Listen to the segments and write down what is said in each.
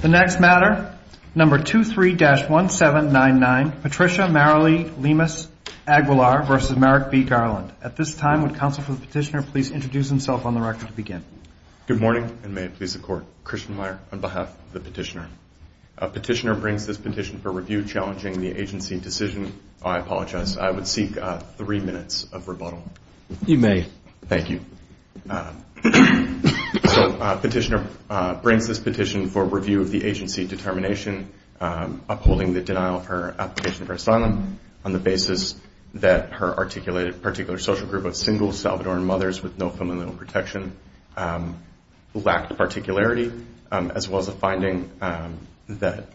The next matter, number 23-1799, Patricia Marilee Lemus-Aguilar v. Merrick B. Garland. At this time, would counsel for the petitioner please introduce himself on the record to begin? Good morning, and may it please the Court. Christian Meyer on behalf of the petitioner. Petitioner brings this petition for review challenging the agency decision. I apologize. I would seek three minutes of rebuttal. You may. Thank you. Petitioner brings this petition for review of the agency determination upholding the denial of her application for asylum on the basis that her articulated particular social group of single Salvadoran mothers with no familial protection lacked particularity as well as a finding that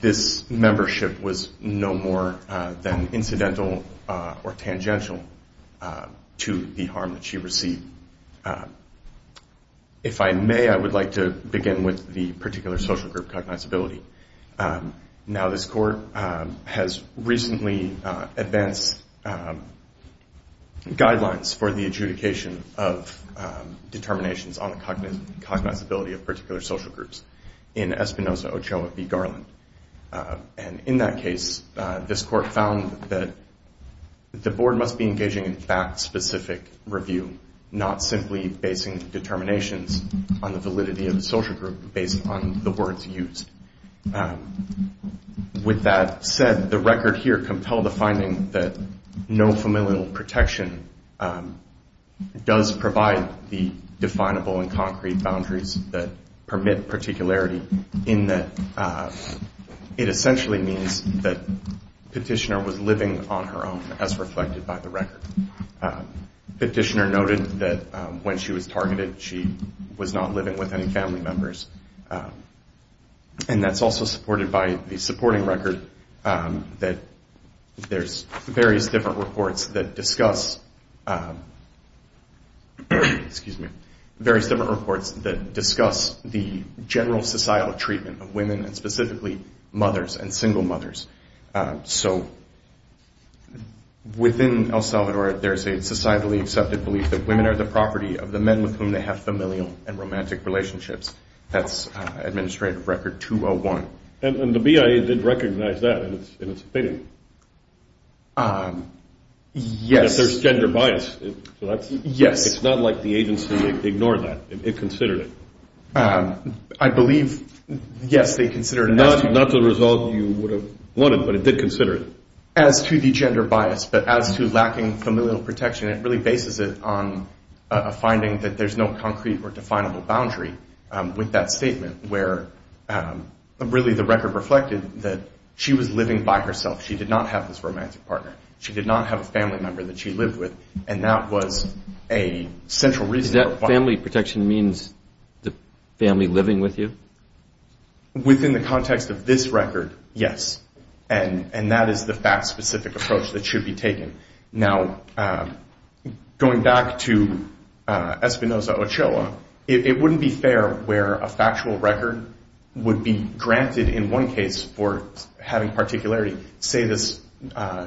this membership was no more than incidental or tangential to the harm that she received. If I may, I would like to begin with the particular social group cognizability. Now, this Court has recently advanced guidelines for the adjudication of determinations on the cognizability of particular social groups in Espinoza, Ochoa v. Garland. And in that case, this Court found that the Board must be engaging in fact-specific review, not simply basing determinations on the validity of the social group based on the words used. With that said, the record here compelled the finding that no familial protection does provide the definable and concrete boundaries that permit particularity in that it essentially means that Petitioner was living on her own as reflected by the record. Petitioner noted that when she was targeted, she was not living with any family members. And that's also supported by the supporting record that there's various different reports that discuss various different reports that discuss the general societal treatment of women, and specifically mothers and single mothers. So within El Salvador, there's a societally accepted belief that women are the property of the men with whom they have familial and romantic relationships. That's Administrative Record 201. And the BIA did recognize that in its opinion? Yes. That there's gender bias. Yes. It's not like the agency ignored that. It considered it. I believe, yes, they considered it. Not the result you would have wanted, but it did consider it. As to the gender bias, but as to lacking familial protection, it really bases it on a finding that there's no concrete or definable boundary with that statement, where really the record reflected that she was living by herself. She did not have this romantic partner. She did not have a family member that she lived with. And that was a central reason. Does that family protection mean the family living with you? Within the context of this record, yes. And that is the fact-specific approach that should be taken. Now, going back to Espinoza-Ochoa, it wouldn't be fair where a factual record would be granted, in one case, for having particularity. Say this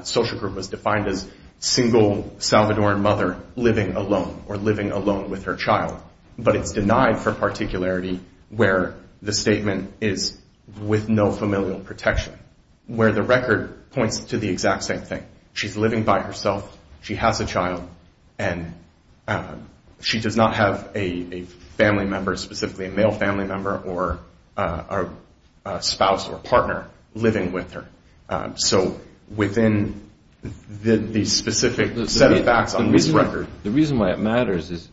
social group was defined as single Salvadoran mother living alone or living alone with her child, but it's denied for particularity where the statement is with no familial protection, where the record points to the exact same thing. She's living by herself. She has a child. And she does not have a family member, specifically a male family member, or a spouse or partner living with her. So within the specific set of facts on this record. The reason why it matters is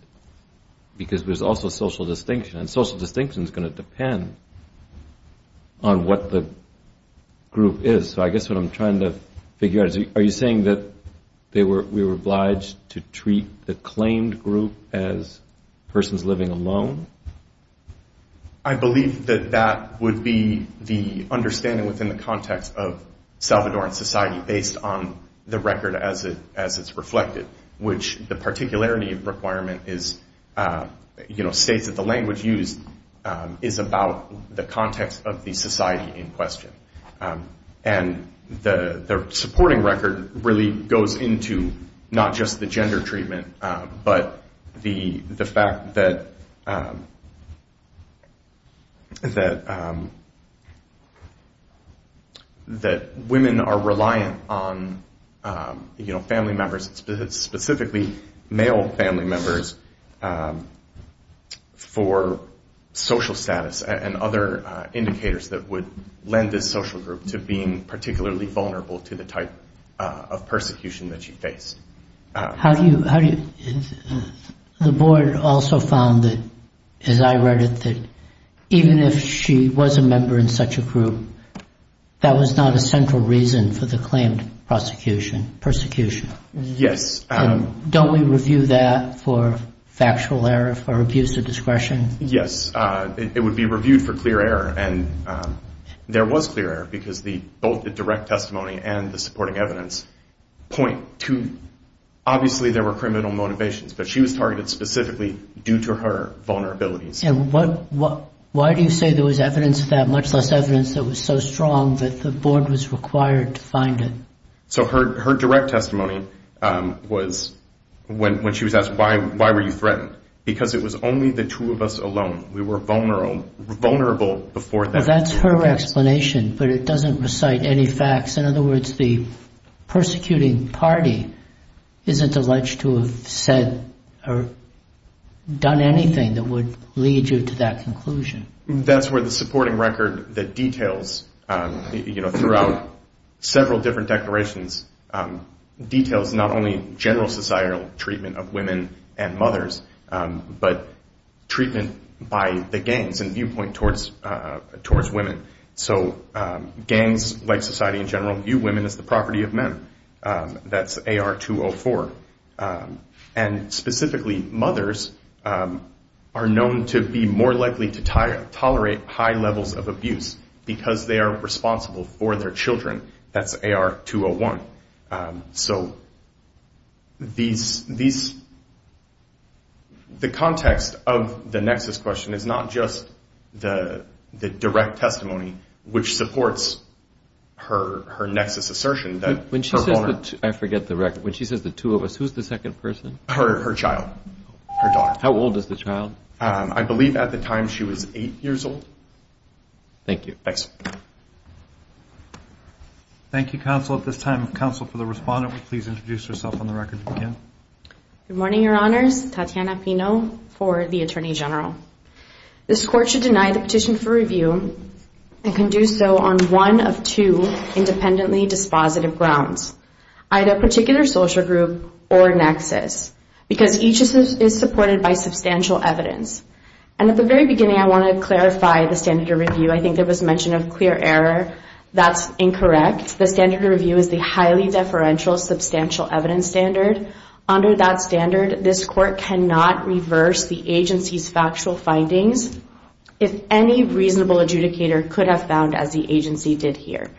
because there's also social distinction, and social distinction is going to depend on what the group is. So I guess what I'm trying to figure out is, are you saying that we were obliged to treat the claimed group as persons living alone? I believe that that would be the understanding within the context of Salvadoran society, based on the record as it's reflected, which the particularity requirement states that the language used is about the context of the society in question. And the supporting record really goes into not just the gender treatment, but the fact that women are reliant on family members, specifically male family members, for social status and other indicators that would lend this social group to being particularly vulnerable to the type of persecution that she faced. The board also found that, as I read it, that even if she was a member in such a group, that was not a central reason for the claimed prosecution, persecution. Yes. Don't we review that for factual error, for abuse of discretion? Yes. It would be reviewed for clear error, and there was clear error, because both the direct testimony and the supporting evidence point to, obviously there were criminal motivations, but she was targeted specifically due to her vulnerabilities. And why do you say there was evidence of that, much less evidence that was so strong that the board was required to find it? So her direct testimony was, when she was asked, why were you threatened? Because it was only the two of us alone. We were vulnerable before that. Well, that's her explanation, but it doesn't recite any facts. In other words, the persecuting party isn't alleged to have said or done anything that would lead you to that conclusion. That's where the supporting record that details, throughout several different declarations, details not only general societal treatment of women and mothers, but treatment by the gangs and viewpoint towards women. So gangs, like society in general, view women as the property of men. That's AR204. And specifically, mothers are known to be more likely to tolerate high levels of abuse, because they are responsible for their children. That's AR201. So the context of the nexus question is not just the direct testimony, which supports her nexus assertion. I forget the record. When she says the two of us, who's the second person? Her child, her daughter. How old is the child? I believe at the time she was eight years old. Thank you. Thanks. Thank you, counsel. At this time, counsel for the respondent will please introduce herself on the record if you can. Good morning, Your Honors. Tatiana Pino for the Attorney General. This court should deny the petition for review and can do so on one of two independently dispositive grounds, either particular social group or nexus, because each is supported by substantial evidence. And at the very beginning, I want to clarify the standard of review. I think there was mention of clear error. That's incorrect. The standard of review is the highly deferential substantial evidence standard. Under that standard, this court cannot reverse the agency's factual findings if any reasonable adjudicator could have found, as the agency did here.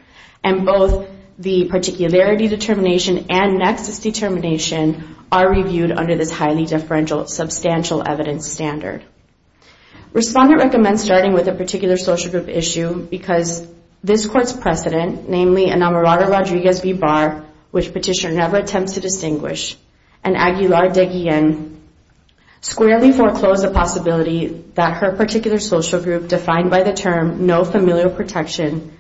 And both the particularity determination and nexus determination are reviewed under this highly deferential substantial evidence standard. Respondent recommends starting with a particular social group issue because this court's precedent, namely, Enamorado Rodriguez v. Barr, which petitioner never attempts to distinguish, and Aguilar de Guillen squarely foreclose the possibility that her particular social group, defined by the term no familial protection,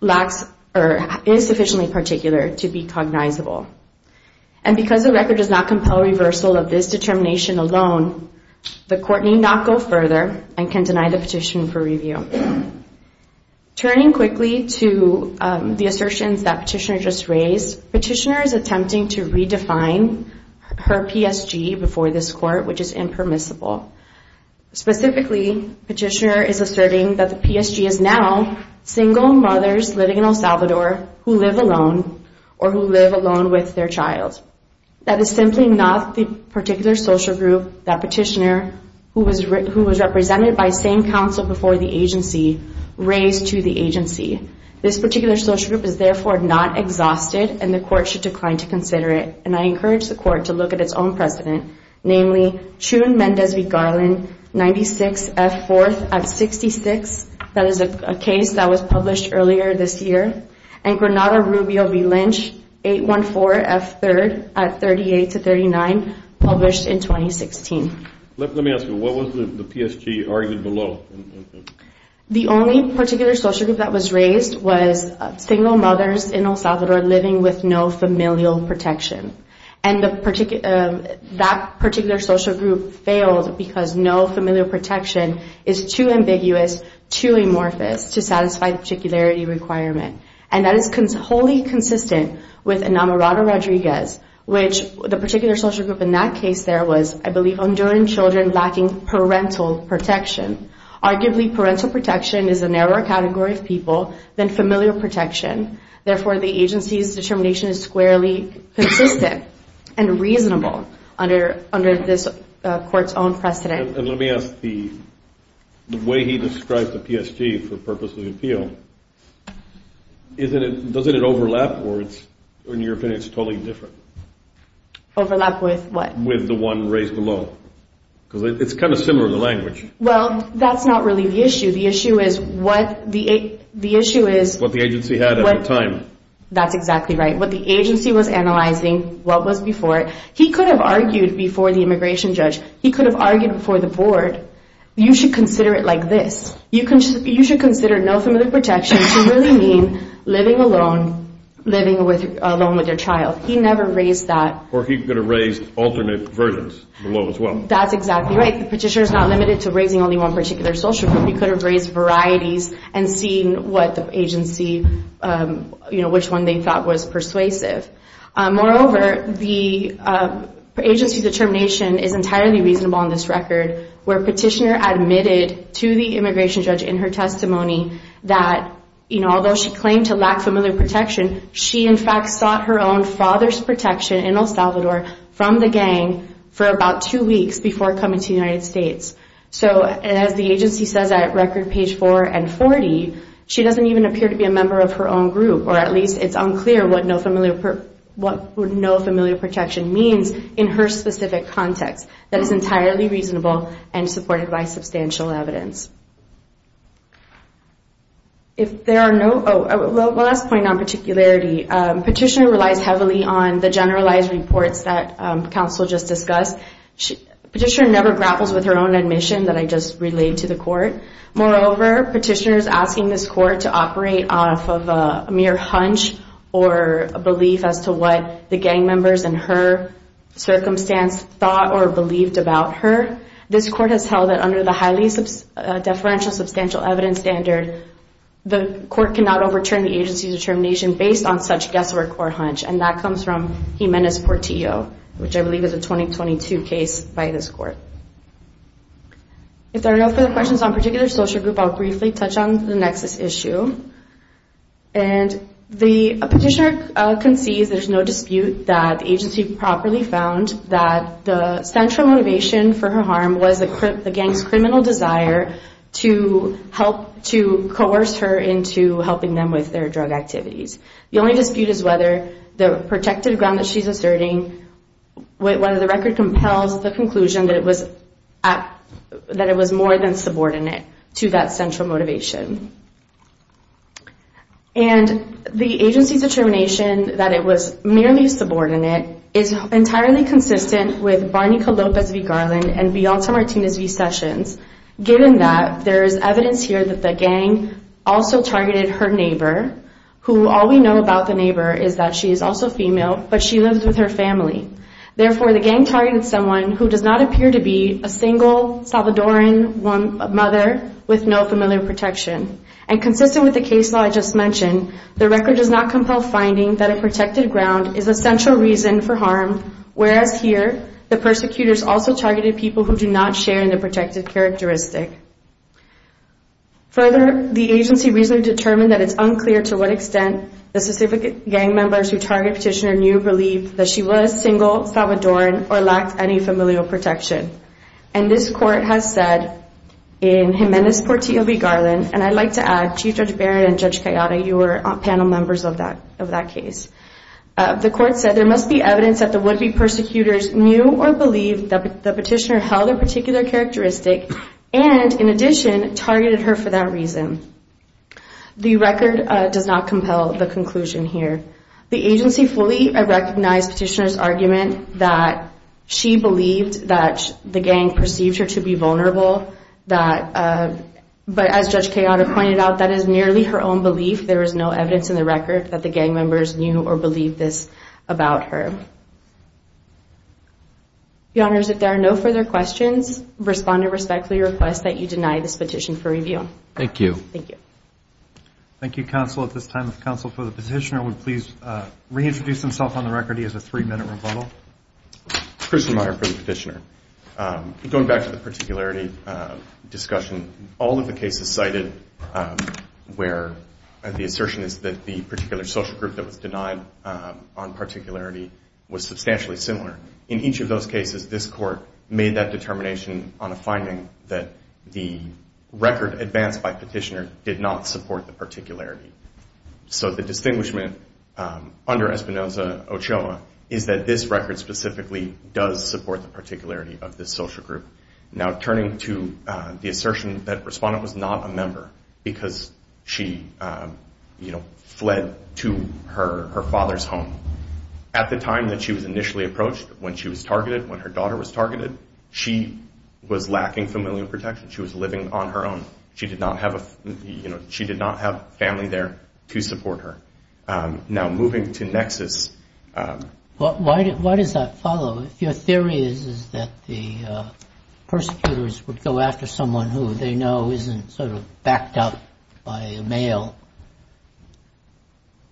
lacks or is sufficiently particular to be cognizable. And because the record does not compel reversal of this determination alone, the court need not go further and can deny the petition for review. Turning quickly to the assertions that petitioner just raised, petitioner is attempting to redefine her PSG before this court, which is impermissible. Specifically, petitioner is asserting that the PSG is now single mothers living in El Salvador who live alone or who live alone with their child. That is simply not the particular social group that petitioner, who was represented by same counsel before the agency, raised to the agency. This particular social group is therefore not exhausted and the court should decline to consider it. And I encourage the court to look at its own precedent, namely, Chun Mendez v. Garland, 96 F. 4th at 66. That is a case that was published earlier this year. And Granada Rubio v. Lynch, 814 F. 3rd at 38 to 39, published in 2016. Let me ask you, what was the PSG argued below? The only particular social group that was raised was single mothers in El Salvador living with no familial protection. And that particular social group failed because no familial protection is too ambiguous, too amorphous to satisfy the particularity requirement. And that is wholly consistent with Enamorado Rodriguez, which the particular social group in that case there was, I believe, enduring children lacking parental protection. Arguably, parental protection is a narrower category of people than familial protection. Therefore, the agency's determination is squarely consistent and reasonable under this court's own precedent. And let me ask, the way he described the PSG for purpose of the appeal, doesn't it overlap? Or in your opinion, it's totally different? Overlap with what? With the one raised below. Because it's kind of similar in the language. Well, that's not really the issue. The issue is what the agency had at the time. That's exactly right. What the agency was analyzing, what was before it. He could have argued before the immigration judge. He could have argued before the board. You should consider it like this. You should consider no familial protection to really mean living alone, living alone with your child. He never raised that. Or he could have raised alternate versions below as well. That's exactly right. The petitioner is not limited to raising only one particular social group. He could have raised varieties and seen what the agency, you know, which one they thought was persuasive. Moreover, the agency determination is entirely reasonable on this record, where petitioner admitted to the immigration judge in her testimony that, you know, although she claimed to lack familial protection, she in fact sought her own father's protection in El Salvador from the gang for about two weeks before coming to the United States. So as the agency says at record page 4 and 40, she doesn't even appear to be a member of her own group. Or at least it's unclear what no familial protection means in her specific context. That is entirely reasonable and supported by substantial evidence. If there are no – well, last point on particularity. Petitioner relies heavily on the generalized reports that counsel just discussed. Petitioner never grapples with her own admission that I just relayed to the court. Moreover, petitioner is asking this court to operate off of a mere hunch or a belief as to what the gang members in her circumstance thought or believed about her. This court has held that under the highly deferential substantial evidence standard, the court cannot overturn the agency's determination based on such guesswork or hunch. And that comes from Jimenez-Portillo, which I believe is a 2022 case by this court. If there are no further questions on particular social group, I'll briefly touch on the nexus issue. And the petitioner concedes there's no dispute that the agency properly found that the central motivation for her harm was the gang's criminal desire to help – to coerce her into helping them with their drug activities. The only dispute is whether the protective ground that she's asserting, whether the record compels the conclusion that it was more than subordinate to that central motivation. And the agency's determination that it was merely subordinate is entirely consistent with Barney Calopas v. Garland and Beyonce Martinez v. Sessions, given that there is evidence here that the gang also targeted her neighbor, who all we know about the neighbor is that she is also female, but she lives with her family. Therefore, the gang targeted someone who does not appear to be a single Salvadoran mother with no familiar protection. And consistent with the case law I just mentioned, the record does not compel finding that a protected ground is a central reason for harm, whereas here, the persecutors also targeted people who do not share in the protected characteristic. Further, the agency recently determined that it's unclear to what extent the specific gang members who targeted Petitioner knew or believed that she was single, Salvadoran, or lacked any familial protection. And this court has said in Jimenez v. Garland, and I'd like to add Chief Judge Barrett and Judge Cayata, you were panel members of that case. The court said there must be evidence that the would-be persecutors knew or believed that Petitioner held a particular characteristic and, in addition, targeted her for that reason. The record does not compel the conclusion here. The agency fully recognized Petitioner's argument that she believed that the gang perceived her to be vulnerable, but as Judge Cayata pointed out, that is nearly her own belief. There is no evidence in the record that the gang members knew or believed this about her. Your Honors, if there are no further questions, respond to respectfully request that you deny this petition for review. Thank you. Thank you. Thank you, Counsel. At this time, if Counsel for the Petitioner would please reintroduce himself on the record. He has a three-minute rebuttal. Christian Meyer for the Petitioner. Going back to the particularity discussion, all of the cases cited where the assertion is that the particular social group that was denied on particularity was substantially similar, in each of those cases, this court made that determination on a finding that the record advanced by Petitioner did not support the particularity. So the distinguishment under Espinoza-Ochoa is that this record specifically does support the particularity of this social group. Now turning to the assertion that Respondent was not a member because she fled to her father's home. At the time that she was initially approached, when she was targeted, she was lacking familial protection. She was living on her own. She did not have family there to support her. Now moving to Nexus. Why does that follow? If your theory is that the persecutors would go after someone who they know isn't sort of backed up by a male,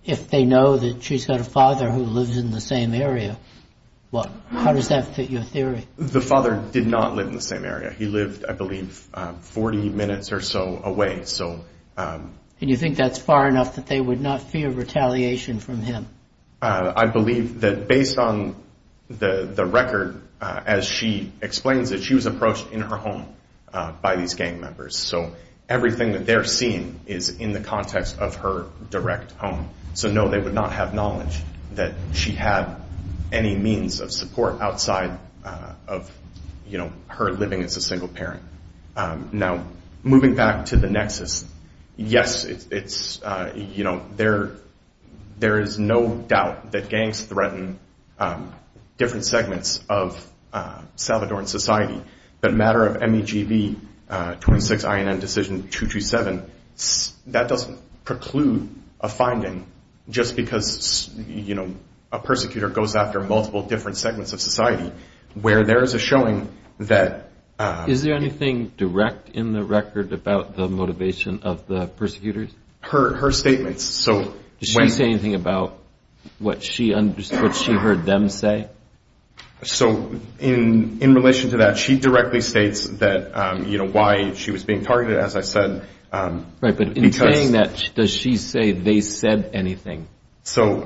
if they know that she's got a father who lives in the same area, how does that fit your theory? The father did not live in the same area. He lived, I believe, 40 minutes or so away. And you think that's far enough that they would not fear retaliation from him? I believe that based on the record, as she explains it, she was approached in her home by these gang members. So everything that they're seeing is in the context of her direct home. So no, they would not have knowledge that she had any means of support outside of her living as a single parent. Now moving back to the Nexus, yes, there is no doubt that gangs threaten different segments of Salvadoran society, but a matter of MEGB 26INN Decision 227, that doesn't preclude a finding just because a persecutor goes after multiple different segments of society, where there is a showing that... Is there anything direct in the record about the motivation of the persecutors? Her statements, so... Did she say anything about what she heard them say? So in relation to that, she directly states why she was being targeted. As I said... Right, but in saying that, does she say they said anything? So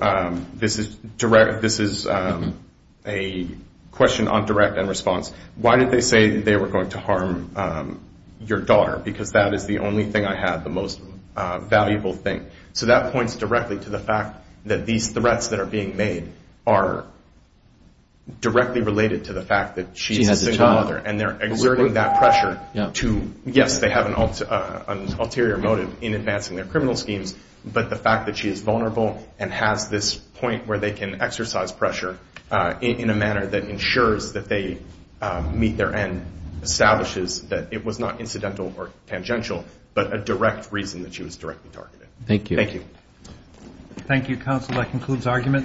this is a question on direct and response. Why did they say they were going to harm your daughter? Because that is the only thing I had, the most valuable thing. So that points directly to the fact that these threats that are being made are directly related to the fact that she's a single mother, and they're exerting that pressure to... on an ulterior motive in advancing their criminal schemes, but the fact that she is vulnerable and has this point where they can exercise pressure in a manner that ensures that they meet their end establishes that it was not incidental or tangential, but a direct reason that she was directly targeted. Thank you. Thank you. Thank you, counsel. That concludes arguments.